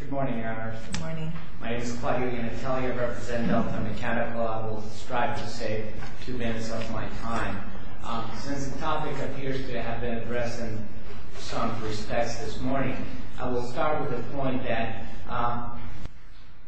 Good morning, Your Honors. Good morning. My name is Claudia Natalia, representing Delta Mechanical. I will strive to save two minutes of my time. Since the topic appears to have been addressed in some respects this morning, I will start with the point that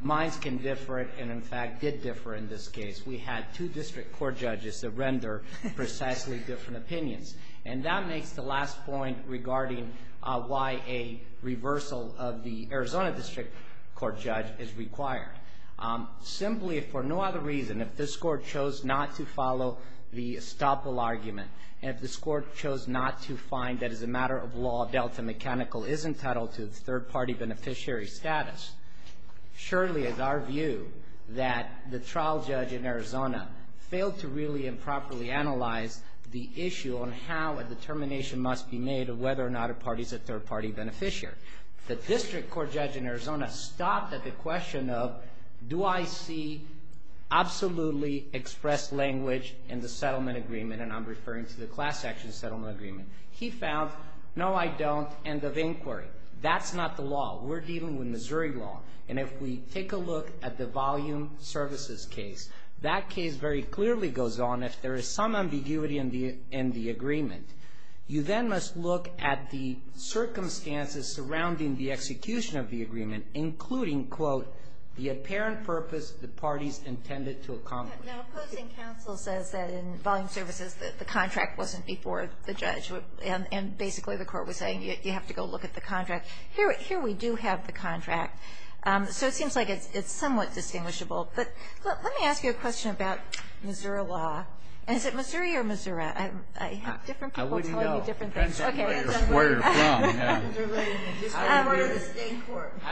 minds can differ and, in fact, did differ in this case. We had two district court judges that render precisely different opinions. And that makes the last point regarding why a reversal of the Arizona district court judge is required. Simply, if for no other reason, if this court chose not to follow the estoppel argument and if this court chose not to find that, as a matter of law, Delta Mechanical is entitled to its third-party beneficiary status, surely it is our view that the trial judge in Arizona failed to really and properly analyze the issue on how a determination must be made of whether or not a party is a third-party beneficiary. The district court judge in Arizona stopped at the question of, do I see absolutely expressed language in the settlement agreement, and I'm referring to the class action settlement agreement. He found, no, I don't, end of inquiry. That's not the law. We're dealing with Missouri law. And if we take a look at the volume services case, that case very clearly goes on if there is some ambiguity in the agreement. You then must look at the circumstances surrounding the execution of the agreement, including, quote, the apparent purpose the parties intended to accomplish. Now, opposing counsel says that in volume services the contract wasn't before the judge, and basically the court was saying you have to go look at the contract. Here we do have the contract. So it seems like it's somewhat distinguishable. But let me ask you a question about Missouri law. Is it Missouri or Missouri? I have different people telling me different things. Okay. I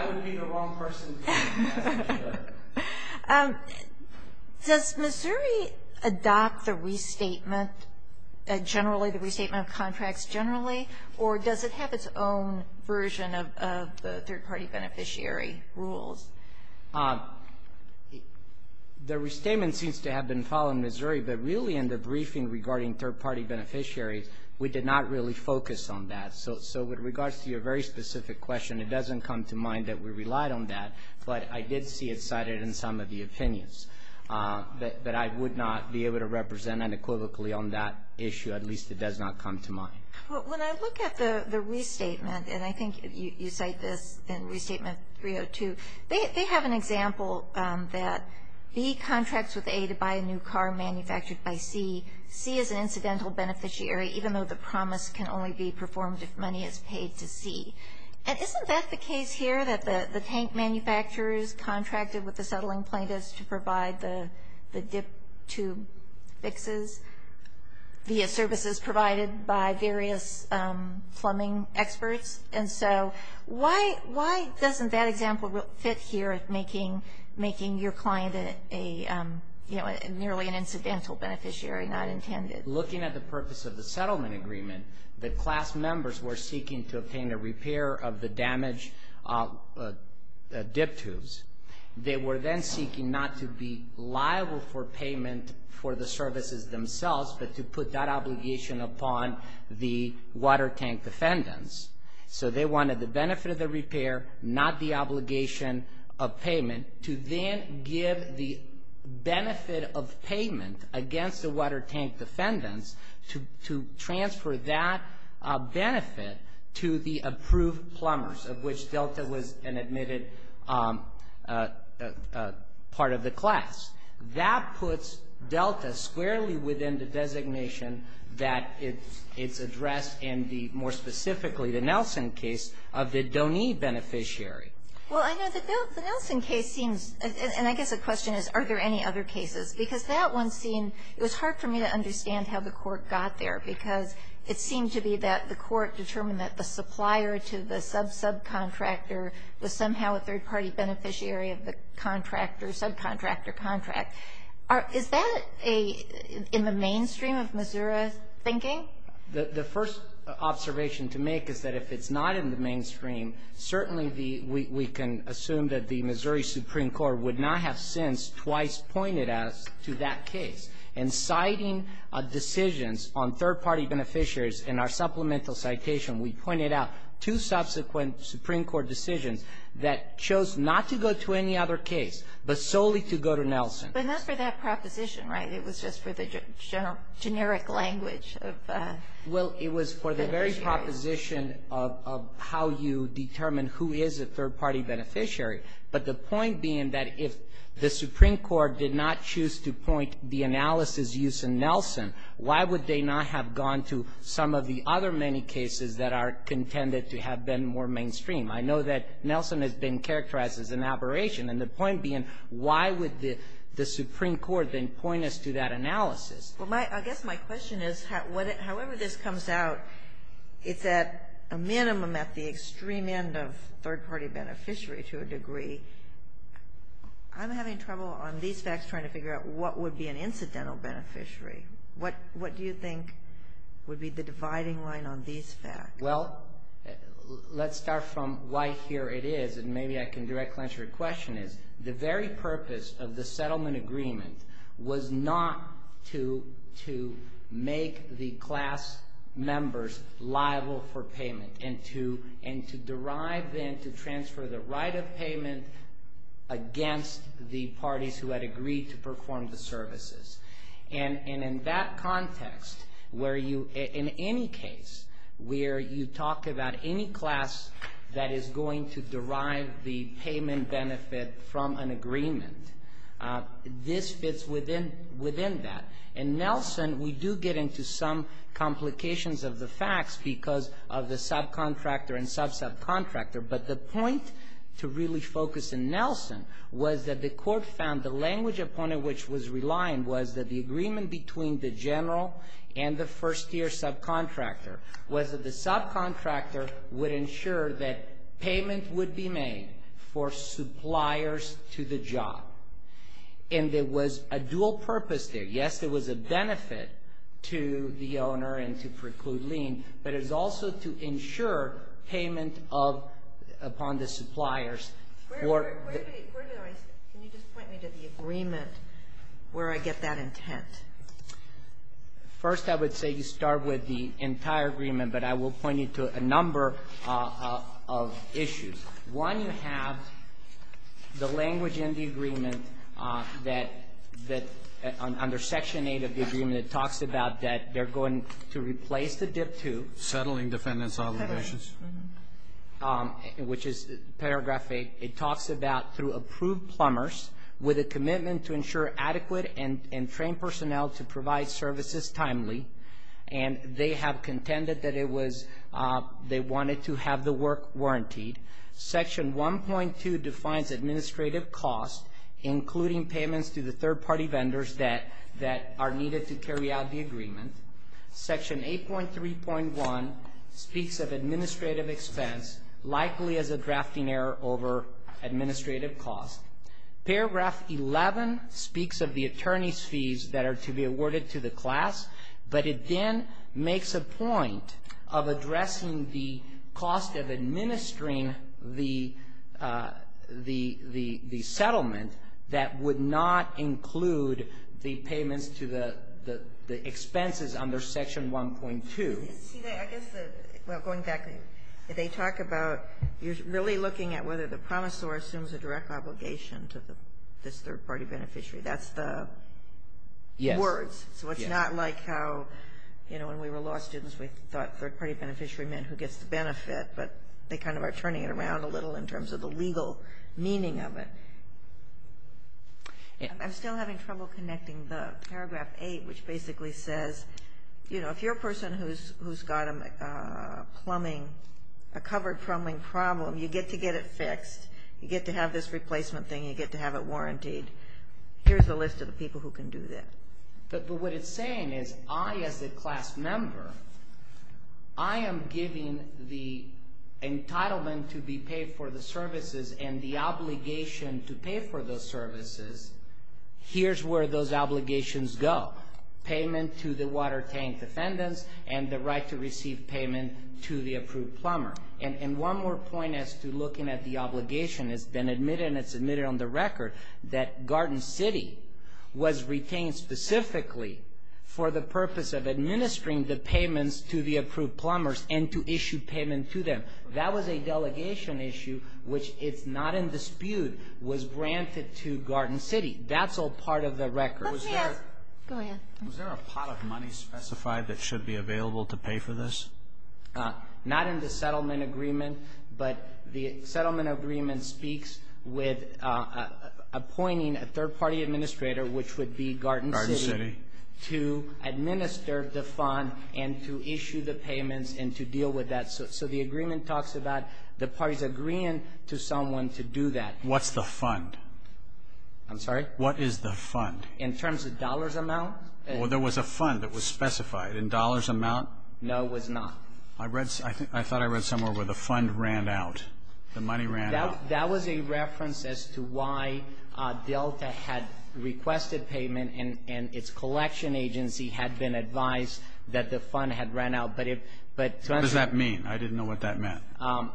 wouldn't be the wrong person. Does Missouri adopt the restatement generally, the restatement of contracts generally, or does it have its own version of the third-party beneficiary rules? The restatement seems to have been filed in Missouri, but really in the briefing regarding third-party beneficiaries, we did not really focus on that. So with regards to your very specific question, it doesn't come to mind that we relied on that, but I did see it cited in some of the opinions that I would not be able to represent unequivocally on that issue. At least it does not come to mind. When I look at the restatement, and I think you cite this in Restatement 302, they have an example that B contracts with A to buy a new car manufactured by C. C is an incidental beneficiary, even though the promise can only be performed if money is paid to C. And isn't that the case here, that the tank manufacturers contracted with the settling plaintiffs to provide the dip tube fixes via services provided by various plumbing experts? And so why doesn't that example fit here, making your client nearly an incidental beneficiary, not intended? Looking at the purpose of the settlement agreement, the class members were seeking to obtain a repair of the damaged dip tubes. They were then seeking not to be liable for payment for the services themselves, but to put that obligation upon the water tank defendants. So they wanted the benefit of the repair, not the obligation of payment, to then give the benefit of payment against the water tank defendants to transfer that benefit to the approved plumbers, of which Delta was an admitted part of the class. That puts Delta squarely within the designation that it's addressed in the, more specifically, the Nelson case of the Doney beneficiary. Well, I know the Nelson case seems, and I guess the question is, are there any other cases? Because that one seemed, it was hard for me to understand how the Court got there, because it seemed to be that the Court determined that the supplier to the sub-subcontractor was somehow a third-party beneficiary of the contractor, subcontractor contract. Is that in the mainstream of Missouri thinking? The first observation to make is that if it's not in the mainstream, certainly we can assume that the Missouri Supreme Court would not have since twice pointed us to that case. In citing decisions on third-party beneficiaries in our supplemental citation, we pointed out two subsequent Supreme Court decisions that chose not to go to any other case, but solely to go to Nelson. But not for that proposition, right? It was just for the generic language of beneficiaries. Well, it was for the very proposition of how you determine who is a third-party beneficiary, but the point being that if the Supreme Court did not choose to point the analysis used in Nelson, why would they not have gone to some of the other many cases that are contended to have been more mainstream? I know that Nelson has been characterized as an aberration, and the point being why would the Supreme Court then point us to that analysis? Well, I guess my question is, however this comes out, it's at a minimum at the extreme end of third-party beneficiary to a degree. I'm having trouble on these facts trying to figure out what would be an incidental beneficiary. What do you think would be the dividing line on these facts? Well, let's start from why here it is, and maybe I can directly answer your question, is the very purpose of the settlement agreement was not to make the class members liable for payment and to derive then to transfer the right of payment against the parties who had agreed to perform the services. And in that context, where you, in any case, where you talk about any class that is going to derive the payment benefit from an agreement, this fits within that. In Nelson, we do get into some complications of the facts because of the subcontractor and sub-subcontractor, but the point to really focus in Nelson was that the court found the language upon which it was relying was that the agreement between the general and the first-year subcontractor was that the subcontractor would ensure that payment would be made for suppliers to the job. And there was a dual purpose there. Yes, there was a benefit to the owner and to preclude lien, but it was also to ensure payment upon the suppliers. Can you just point me to the agreement where I get that intent? First, I would say you start with the entire agreement, but I will point you to a number of issues. One, you have the language in the agreement that, under Section 8 of the agreement, it talks about that they're going to replace the Dip 2. Settling defendants' obligations. Which is paragraph 8. It talks about through approved plumbers with a commitment to ensure adequate and trained personnel to provide services timely, and they have contended that they wanted to have the work warrantied. Section 1.2 defines administrative costs, including payments to the third-party vendors that are needed to carry out the agreement. Section 8.3.1 speaks of administrative expense, likely as a drafting error over administrative costs. Paragraph 11 speaks of the attorney's fees that are to be awarded to the class, but it then makes a point of addressing the cost of administering the settlement that would not include the payments to the expenses under Section 1.2. See, I guess going back, they talk about you're really looking at whether the promisor assumes a direct obligation to this third-party beneficiary. That's the words. So it's not like how, you know, when we were law students, we thought third-party beneficiary meant who gets the benefit, but they kind of are turning it around a little in terms of the legal meaning of it. I'm still having trouble connecting the paragraph 8, which basically says, you know, if you're a person who's got a plumbing, a covered plumbing problem, you get to get it fixed. You get to have this replacement thing. You get to have it warrantied. Here's a list of the people who can do that. But what it's saying is I, as a class member, I am giving the entitlement to be paid for the services and the obligation to pay for those services. Here's where those obligations go, payment to the water tank defendants and the right to receive payment to the approved plumber. And one more point as to looking at the obligation, it's been admitted and it's admitted on the record that Garden City was retained specifically for the purpose of administering the payments to the approved plumbers and to issue payment to them. That was a delegation issue which, it's not in dispute, was granted to Garden City. That's all part of the record. Let me ask. Go ahead. Was there a pot of money specified that should be available to pay for this? Not in the settlement agreement, but the settlement agreement speaks with appointing a third-party administrator, which would be Garden City, to administer the fund and to issue the payments and to deal with that. So the agreement talks about the parties agreeing to someone to do that. What's the fund? I'm sorry? What is the fund? In terms of dollars amount? Well, there was a fund that was specified. In dollars amount? No, it was not. I thought I read somewhere where the fund ran out, the money ran out. That was a reference as to why Delta had requested payment and its collection agency had been advised that the fund had ran out. What does that mean? I didn't know what that meant. But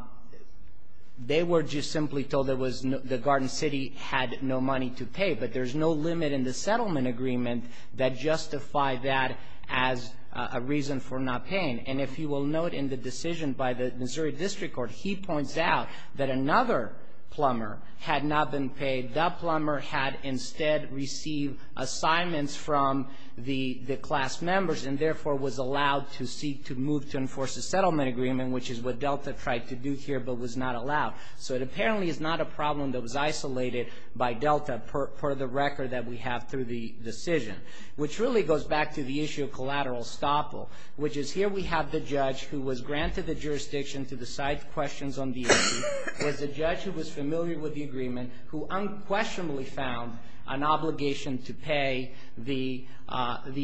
there's no limit in the settlement agreement that justified that as a reason for not paying. And if you will note in the decision by the Missouri District Court, he points out that another plumber had not been paid. That plumber had instead received assignments from the class members and therefore was allowed to seek to move to enforce a settlement agreement, which is what Delta tried to do here but was not allowed. So it apparently is not a problem that was isolated by Delta, per the record that we have through the decision, which really goes back to the issue of collateral estoppel, which is here we have the judge who was granted the jurisdiction to decide questions on the issue, was a judge who was familiar with the agreement, who unquestionably found an obligation to pay the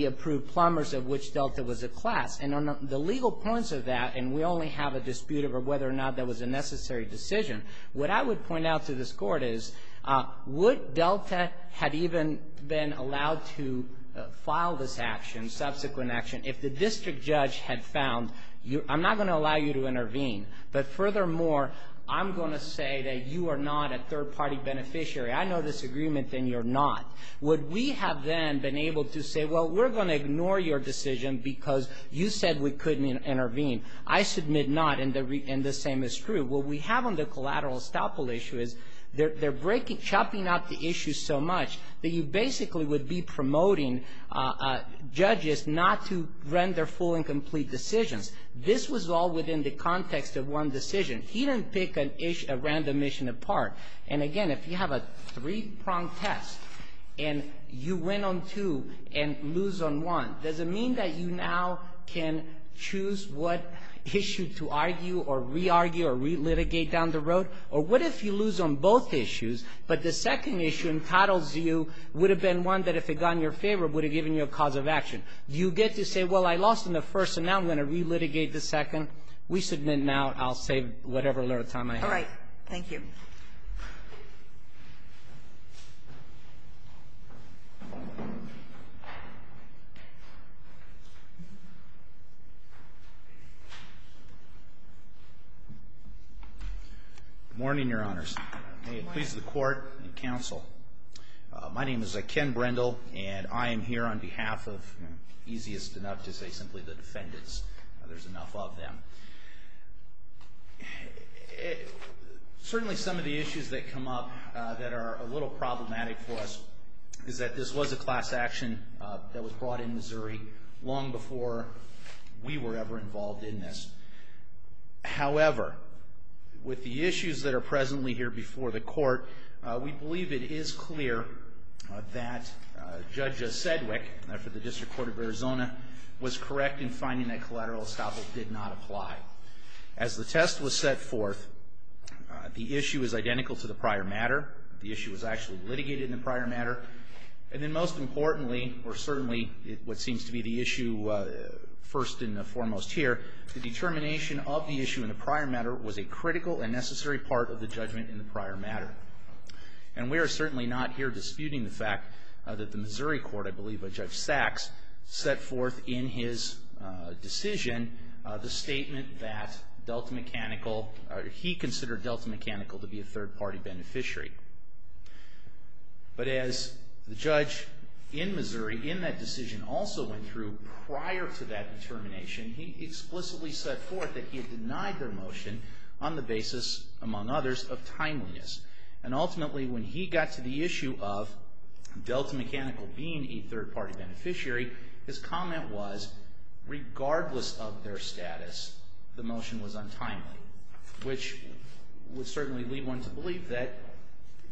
approved plumbers of which Delta was a class. And on the legal points of that, and we only have a dispute over whether or not that was a necessary decision, what I would point out to this Court is, would Delta have even been allowed to file this action, subsequent action, if the district judge had found, I'm not going to allow you to intervene, but furthermore, I'm going to say that you are not a third-party beneficiary. I know this agreement and you're not. Would we have then been able to say, well, we're going to ignore your decision because you said we couldn't intervene? I submit not, and the same is true. What we have on the collateral estoppel issue is they're chopping out the issue so much that you basically would be promoting judges not to run their full and complete decisions. This was all within the context of one decision. He didn't pick a random issue apart. And, again, if you have a three-prong test and you win on two and lose on one, does it mean that you now can choose what issue to argue or re-argue or re-litigate down the road? Or what if you lose on both issues, but the second issue entitles you would have been one that, if it had gone in your favor, would have given you a cause of action? Do you get to say, well, I lost in the first, so now I'm going to re-litigate the second? We submit not. I'll save whatever little time I have. All right. Thank you. Good morning, Your Honors. May it please the Court and Counsel. My name is Ken Brendel, and I am here on behalf of, easiest enough to say, simply the defendants. There's enough of them. Certainly, some of the issues that come up that are a little problematic for us is that this was a class action that was brought in Missouri long before we were ever involved in this. However, with the issues that are presently here before the Court, we believe it is clear that Judge Sedgwick, for the District Court of Arizona, was correct in saying that collateral estoppel did not apply. As the test was set forth, the issue is identical to the prior matter. The issue was actually litigated in the prior matter. And then, most importantly, or certainly what seems to be the issue first and foremost here, the determination of the issue in the prior matter was a critical and necessary part of the judgment in the prior matter. And we are certainly not here disputing the fact that the Missouri Court, I believe, in its decision, the statement that Delta Mechanical, he considered Delta Mechanical to be a third-party beneficiary. But as the judge in Missouri, in that decision, also went through prior to that determination, he explicitly set forth that he had denied their motion on the basis, among others, of timeliness. And ultimately, when he got to the issue of Delta Mechanical being a third-party beneficiary, his comment was, regardless of their status, the motion was untimely, which would certainly lead one to believe that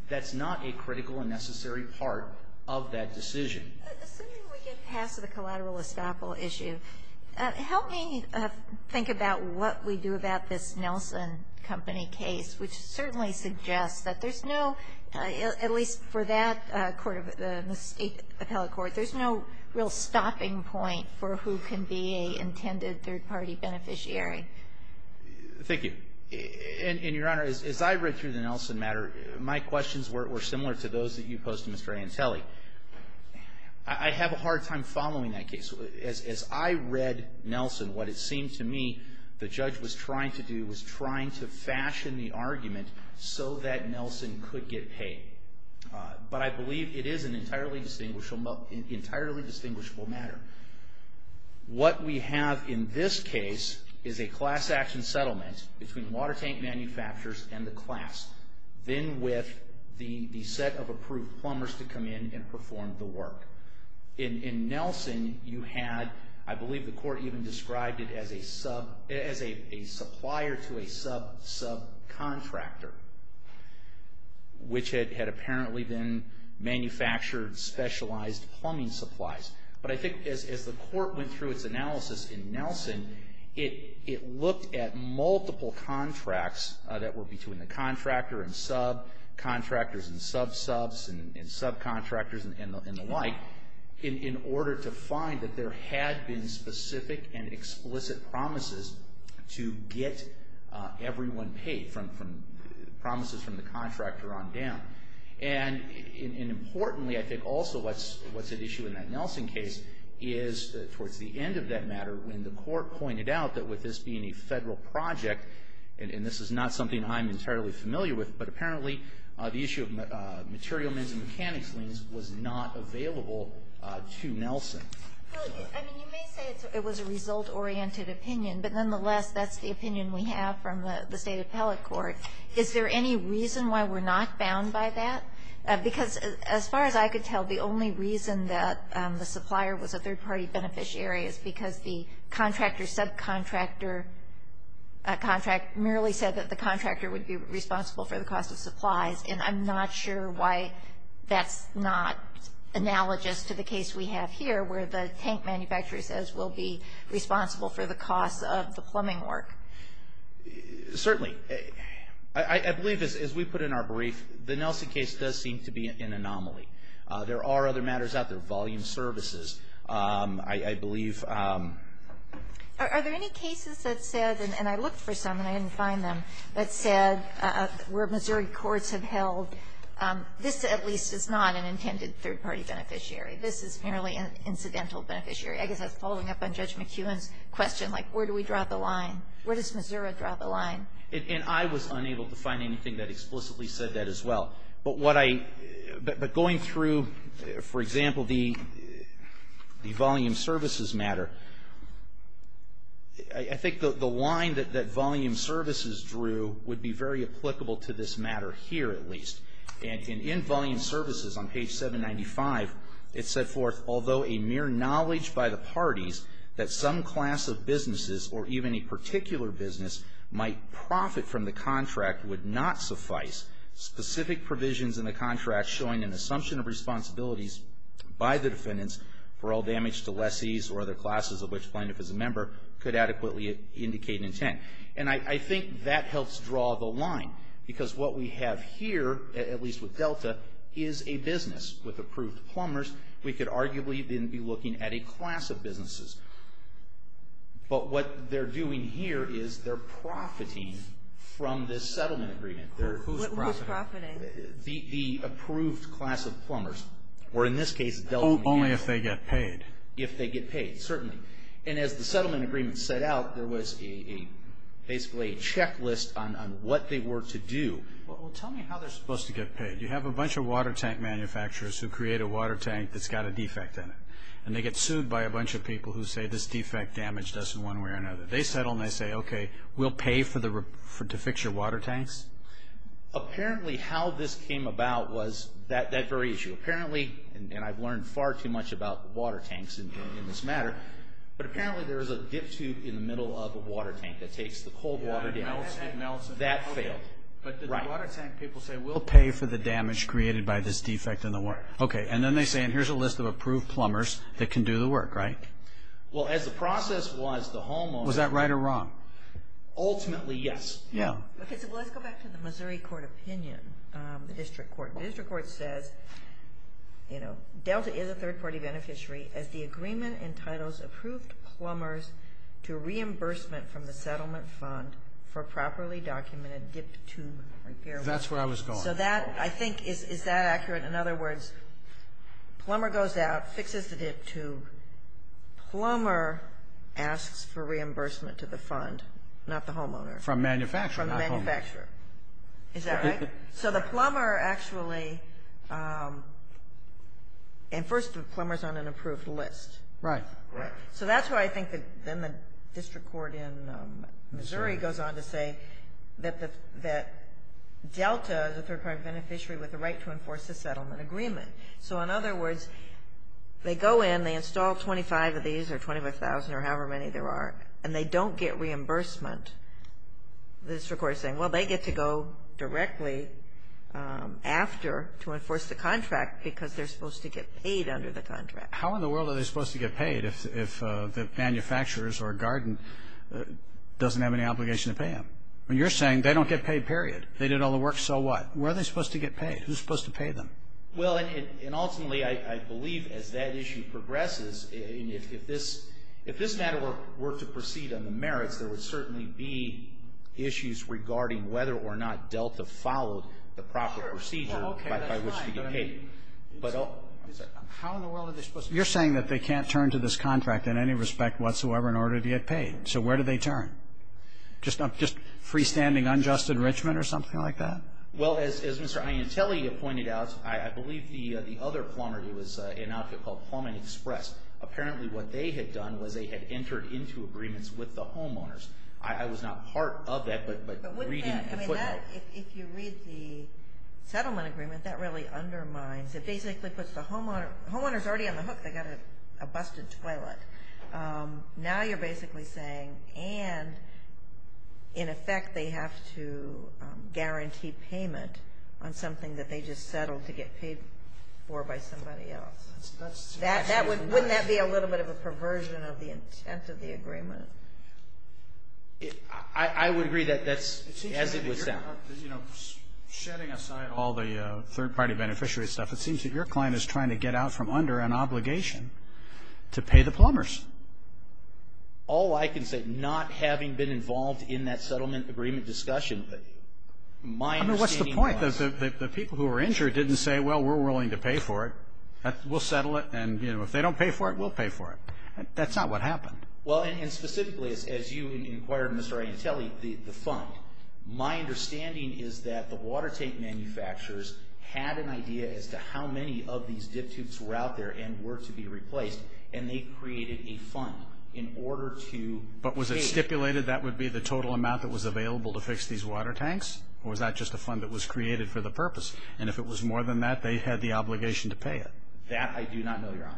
that's not a critical and necessary part of that decision. But assuming we get past the collateral estoppel issue, help me think about what we do about this Nelson Company case, which certainly suggests that there's no, at least for that court, the State Appellate Court, there's no real stopping point for who can be a intended third-party beneficiary. Thank you. And, Your Honor, as I read through the Nelson matter, my questions were similar to those that you posed to Mr. Antelli. I have a hard time following that case. As I read Nelson, what it seemed to me the judge was trying to do was trying to fashion the argument so that Nelson could get paid. But I believe it is an entirely distinguishable matter. What we have in this case is a class action settlement between water tank manufacturers and the class, then with the set of approved plumbers to come in and perform the work. In Nelson, you had, I believe the court even described it as a supplier to a sub-sub-contractor, which had apparently been manufactured specialized plumbing supplies. But I think as the court went through its analysis in Nelson, it looked at multiple contracts that were between the contractor and sub, contractors and sub-subs and sub-contractors and the like, in order to find that there had been specific and explicit promises to get everyone paid, promises from the contractor on down. And importantly, I think also what's at issue in that Nelson case is, towards the end of that matter, when the court pointed out that with this being a federal project, and this is not something I'm entirely familiar with, but apparently the issue of material men's and mechanics liens was not available to Nelson. Well, I mean, you may say it was a result-oriented opinion, but nonetheless, that's the opinion we have from the State Appellate Court. Is there any reason why we're not bound by that? Because as far as I could tell, the only reason that the supplier was a third-party beneficiary is because the contractor-subcontractor contract merely said that the contractor would be responsible for the cost of supplies. And I'm not sure why that's not analogous to the case we have here, where the tank manufacturer says we'll be responsible for the cost of the plumbing work. Certainly. I believe, as we put in our brief, the Nelson case does seem to be an anomaly. There are other matters out there, volume services, I believe. Are there any cases that said, and I looked for some and I didn't find them, that said where Missouri courts have held this at least is not an intended third-party beneficiary, this is merely an incidental beneficiary? I guess that's following up on Judge McEwen's question, like where do we draw the line? Where does Missouri draw the line? And I was unable to find anything that explicitly said that as well. But going through, for example, the volume services matter, I think the line that volume services drew would be very applicable to this matter here at least. And in volume services on page 795, it said forth, although a mere knowledge by the parties that some class of businesses or even a particular business might profit from the contract would not suffice, specific provisions in the contract showing an assumption of responsibilities by the defendants for all damage to lessees or other classes of which plaintiff is a member could adequately indicate intent. And I think that helps draw the line because what we have here, at least with Delta, is a business with approved plumbers. But what they're doing here is they're profiting from this settlement agreement. Who's profiting? The approved class of plumbers. Or in this case, Delta. Only if they get paid. If they get paid, certainly. And as the settlement agreement set out, there was basically a checklist on what they were to do. Well, tell me how they're supposed to get paid. You have a bunch of water tank manufacturers who create a water tank that's got a defect in it. And they get sued by a bunch of people who say this defect damaged us in one way or another. They settle and they say, okay, we'll pay to fix your water tanks. Apparently how this came about was that very issue. Apparently, and I've learned far too much about water tanks in this matter, but apparently there is a dip tube in the middle of a water tank that takes the cold water down. It melts. That failed. But the water tank people say we'll pay for the damage created by this defect in the water. Okay, and then they say, and here's a list of approved plumbers that can do the work, right? Well, as the process was, the homeowners... Was that right or wrong? Ultimately, yes. Yeah. Okay, so let's go back to the Missouri court opinion, the district court. The district court says, you know, Delta is a third-party beneficiary as the agreement entitles approved plumbers to reimbursement from the settlement fund for properly documented dip tube repair work. That's where I was going. So that, I think, is that accurate? In other words, plumber goes out, fixes the dip tube. Plumber asks for reimbursement to the fund, not the homeowner. From manufacturer, not homeowner. From the manufacturer. Is that right? So the plumber actually, and first, the plumber's on an approved list. Right. Right. So that's why I think that then the district court in Missouri goes on to say that Delta, Delta is a third-party beneficiary with the right to enforce the settlement agreement. So, in other words, they go in, they install 25 of these or 25,000 or however many there are, and they don't get reimbursement. The district court is saying, well, they get to go directly after to enforce the contract because they're supposed to get paid under the contract. How in the world are they supposed to get paid if the manufacturers or garden doesn't have any obligation to pay them? You're saying they don't get paid, period. They did all the work, so what? Where are they supposed to get paid? Who's supposed to pay them? Well, and ultimately, I believe as that issue progresses, if this matter were to proceed on the merits, there would certainly be issues regarding whether or not Delta followed the proper procedure by which to get paid. How in the world are they supposed to get paid? You're saying that they can't turn to this contract in any respect whatsoever in order to get paid. So where do they turn? Just freestanding unjust enrichment or something like that? Well, as Mr. Iantelli pointed out, I believe the other plumber who was in an outfit called Plumbing Express, apparently what they had done was they had entered into agreements with the homeowners. I was not part of that, but reading the footnote. If you read the settlement agreement, that really undermines. It basically puts the homeowners already on the hook. They got a busted toilet. Now you're basically saying and, in effect, they have to guarantee payment on something that they just settled to get paid for by somebody else. Wouldn't that be a little bit of a perversion of the intent of the agreement? I would agree that that's as it would sound. You know, setting aside all the third-party beneficiary stuff, it seems that your client is trying to get out from under an obligation to pay the plumbers. All I can say, not having been involved in that settlement agreement discussion with you. I mean, what's the point? The people who were injured didn't say, well, we're willing to pay for it. We'll settle it, and, you know, if they don't pay for it, we'll pay for it. That's not what happened. Well, and specifically, as you inquired, Mr. Iantelli, the fund, my understanding is that the water tank manufacturers had an idea as to how many of these dip tubes were out there and were to be replaced, and they created a fund in order to pay. But was it stipulated that would be the total amount that was available to fix these water tanks, or was that just a fund that was created for the purpose? And if it was more than that, they had the obligation to pay it. That I do not know, Your Honor.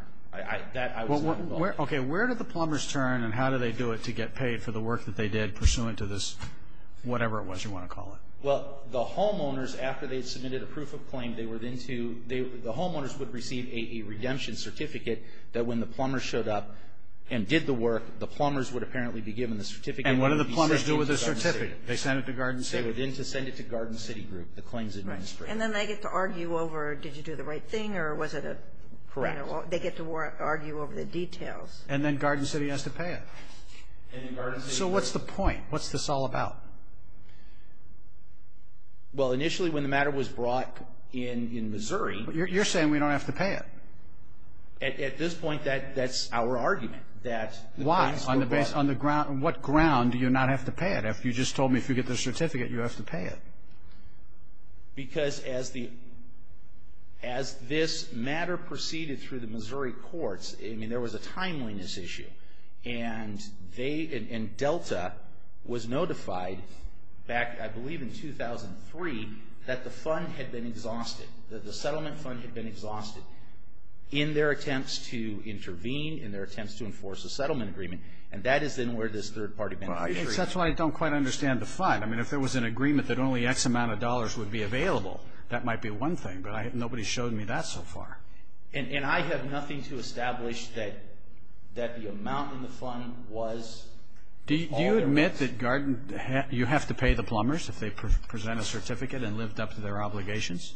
Okay, where did the plumbers turn, and how do they do it to get paid for the work that they did pursuant to this, whatever it was you want to call it? Well, the homeowners, after they submitted a proof of claim, they were then to the homeowners would receive a redemption certificate that when the plumbers showed up and did the work, the plumbers would apparently be given the certificate. And what do the plumbers do with the certificate? They send it to Garden City. They were then to send it to Garden City Group, the claims administrator. And then they get to argue over, did you do the right thing, or was it a, you know, they get to argue over the details. And then Garden City has to pay it. So what's the point? What's this all about? Well, initially when the matter was brought in in Missouri. You're saying we don't have to pay it. At this point, that's our argument. Why? On what ground do you not have to pay it? You just told me if you get the certificate, you have to pay it. Because as this matter proceeded through the Missouri courts, I mean, there was a timeliness issue. And they, and Delta was notified back, I believe, in 2003, that the fund had been exhausted, that the settlement fund had been exhausted, in their attempts to intervene, in their attempts to enforce a settlement agreement. And that is then where this third-party. That's why I don't quite understand the fund. I mean, if there was an agreement that only X amount of dollars would be available, that might be one thing. But nobody's showed me that so far. And I have nothing to establish that the amount in the fund was... Do you admit that you have to pay the plumbers if they present a certificate and lived up to their obligations?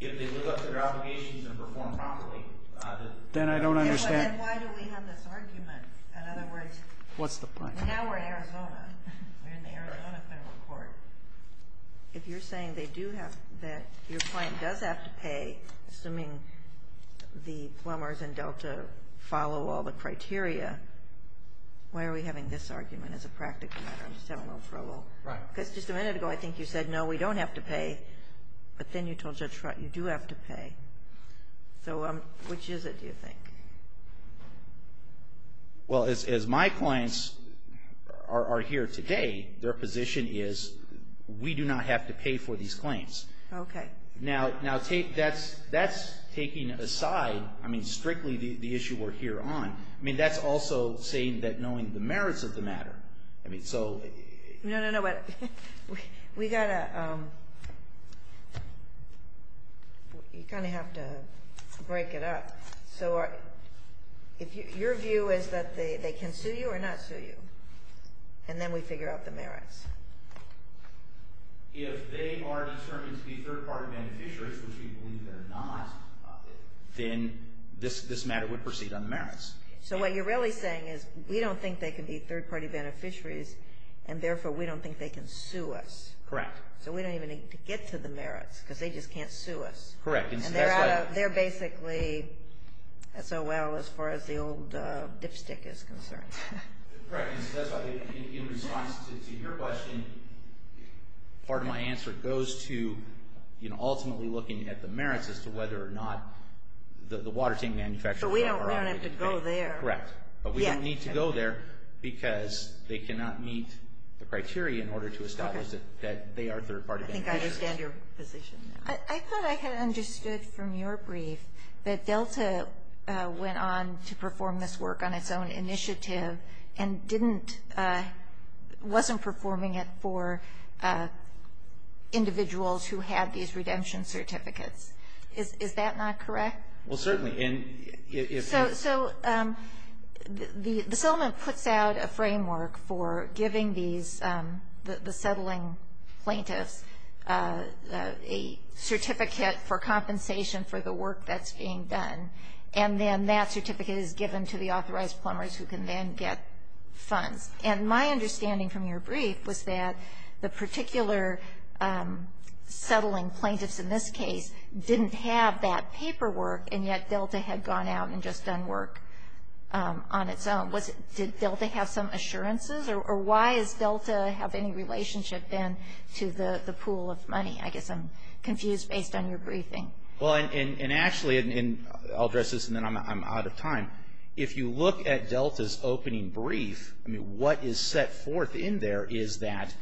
If they live up to their obligations and perform properly... Then I don't understand. And why do we have this argument? In other words... What's the point? Now we're in Arizona. We're in the Arizona federal court. If you're saying that your client does have to pay, assuming the plumbers and Delta follow all the criteria, why are we having this argument as a practical matter? I'm just having a little trouble. Right. Because just a minute ago, I think you said, no, we don't have to pay. But then you told Judge Trott you do have to pay. So which is it, do you think? Well, as my clients are here today, their position is we do not have to pay for these claims. Okay. Now that's taking aside, I mean, strictly the issue we're here on. I mean, that's also saying that knowing the merits of the matter. I mean, so... No, no, no. We've got to... You kind of have to break it up. So your view is that they can sue you or not sue you, and then we figure out the merits. If they are determined to be third-party beneficiaries, which we believe they're not, then this matter would proceed on the merits. So what you're really saying is we don't think they can be third-party beneficiaries, and therefore we don't think they can sue us. Correct. So we don't even need to get to the merits because they just can't sue us. Correct. And they're basically SOL as far as the old dipstick is concerned. Correct. And so that's why in response to your question, part of my answer goes to ultimately looking at the merits as to whether or not the water tank manufacturer... But we don't have to go there. Correct. But we don't need to go there because they cannot meet the criteria in order to establish that they are third-party beneficiaries. I think I understand your position now. I thought I had understood from your brief that Delta went on to perform this work on its own initiative and wasn't performing it for individuals who had these redemption certificates. Is that not correct? Well, certainly. So the settlement puts out a framework for giving these, the settling plaintiffs, a certificate for compensation for the work that's being done, and then that certificate is given to the authorized plumbers who can then get funds. And my understanding from your brief was that the particular settling plaintiffs in this case didn't have that paperwork, and yet Delta had gone out and just done work on its own. Did Delta have some assurances, or why does Delta have any relationship then to the pool of money? I guess I'm confused based on your briefing. Well, and actually, and I'll address this and then I'm out of time. If you look at Delta's opening brief, I mean, what is set forth in there is that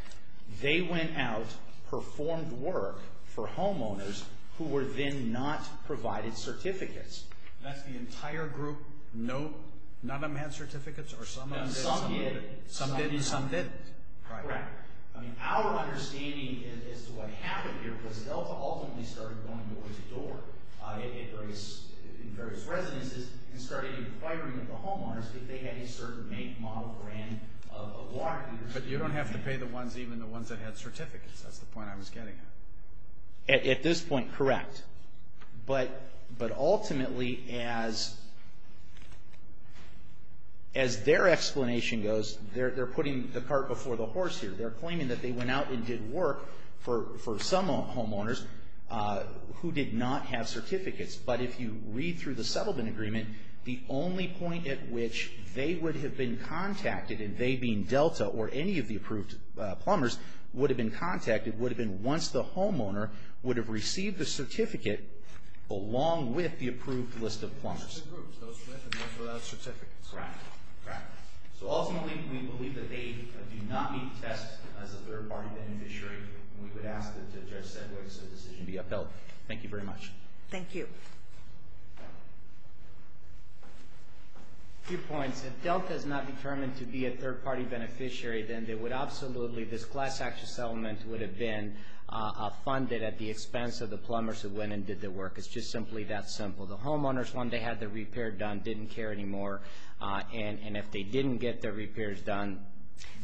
they went out, performed work for homeowners who were then not provided certificates. That's the entire group? None of them had certificates? No, some did. Some did and some didn't. Correct. I mean, our understanding as to what happened here was that Delta ultimately started going door-to-door in various residences and started inquiring of the homeowners if they had a certain make, model, or brand of water. But you don't have to pay the ones, even the ones that had certificates. That's the point I was getting at. At this point, correct. But ultimately, as their explanation goes, they're putting the cart before the horse here. They're claiming that they went out and did work for some homeowners who did not have certificates. But if you read through the settlement agreement, the only point at which they would have been contacted, and they being Delta or any of the approved plumbers, would have been contacted would have been once the homeowner would have received the certificate along with the approved list of plumbers. Those two groups, those with and those without certificates. Correct. Correct. So ultimately, we believe that they do not meet the test as a third-party beneficiary, and we would ask that Judge Sedgwick's decision be upheld. Thank you very much. Thank you. A few points. If Delta is not determined to be a third-party beneficiary, then they would absolutely, this class action settlement would have been funded at the expense of the plumbers who went and did the work. It's just simply that simple. The homeowners, when they had their repair done, didn't care anymore, and if they didn't get their repairs done.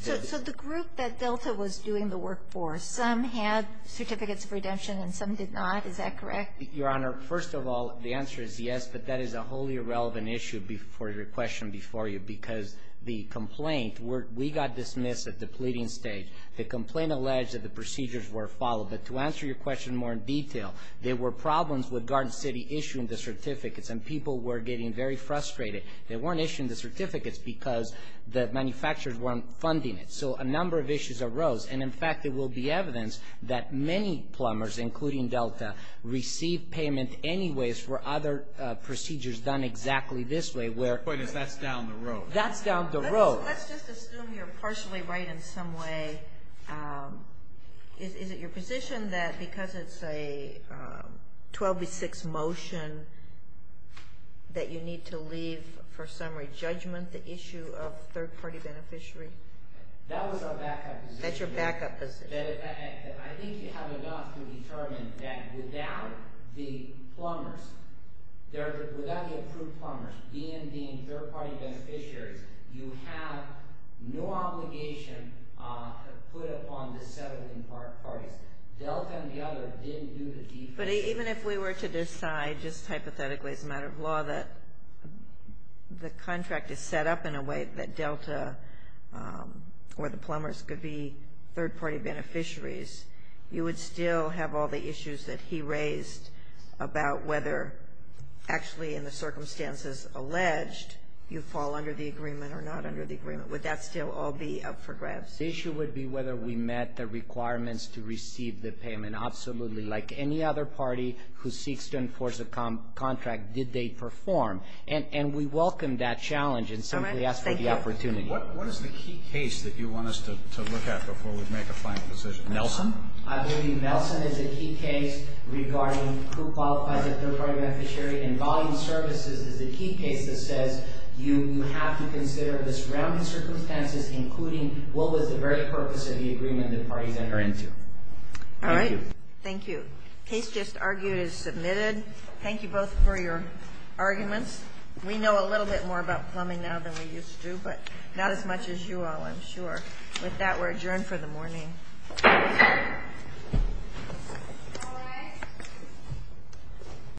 So the group that Delta was doing the work for, some had certificates of redemption and some did not. Is that correct? Your Honor, first of all, the answer is yes, but that is a wholly irrelevant issue for your question before you because the complaint, we got dismissed at the pleading stage. The complaint alleged that the procedures were followed, but to answer your question more in detail, there were problems with Garden City issuing the certificates, and people were getting very frustrated. They weren't issuing the certificates because the manufacturers weren't funding it. So a number of issues arose, and in fact there will be evidence that many plumbers, including Delta, received payment anyways for other procedures done exactly this way. The point is that's down the road. That's down the road. Let's just assume you're partially right in some way. Is it your position that because it's a 12-6 motion that you need to leave for summary judgment the issue of third-party beneficiary? That was our backup position. That's your backup position. I think you have enough to determine that without the plumbers, without the approved plumbers, DND and third-party beneficiaries, you have no obligation to put upon the settling parties. Delta and the others didn't do the defense. But even if we were to decide just hypothetically as a matter of law that the contract is set up in a way that Delta or the plumbers could be third-party beneficiaries, you would still have all the issues that he raised about whether actually in the circumstances alleged you fall under the agreement or not under the agreement. Would that still all be up for grabs? The issue would be whether we met the requirements to receive the payment. Absolutely. Like any other party who seeks to enforce a contract, did they perform? And we welcome that challenge and simply ask for the opportunity. What is the key case that you want us to look at before we make a final decision? Nelson? I believe Nelson is a key case regarding who qualifies as a third-party beneficiary. And volume services is a key case that says you have to consider the surrounding circumstances, including what was the very purpose of the agreement the parties entered into. Thank you. The case just argued is submitted. Thank you both for your arguments. We know a little bit more about plumbing now than we used to, but not as much as you all, I'm sure. With that, we're adjourned for the morning.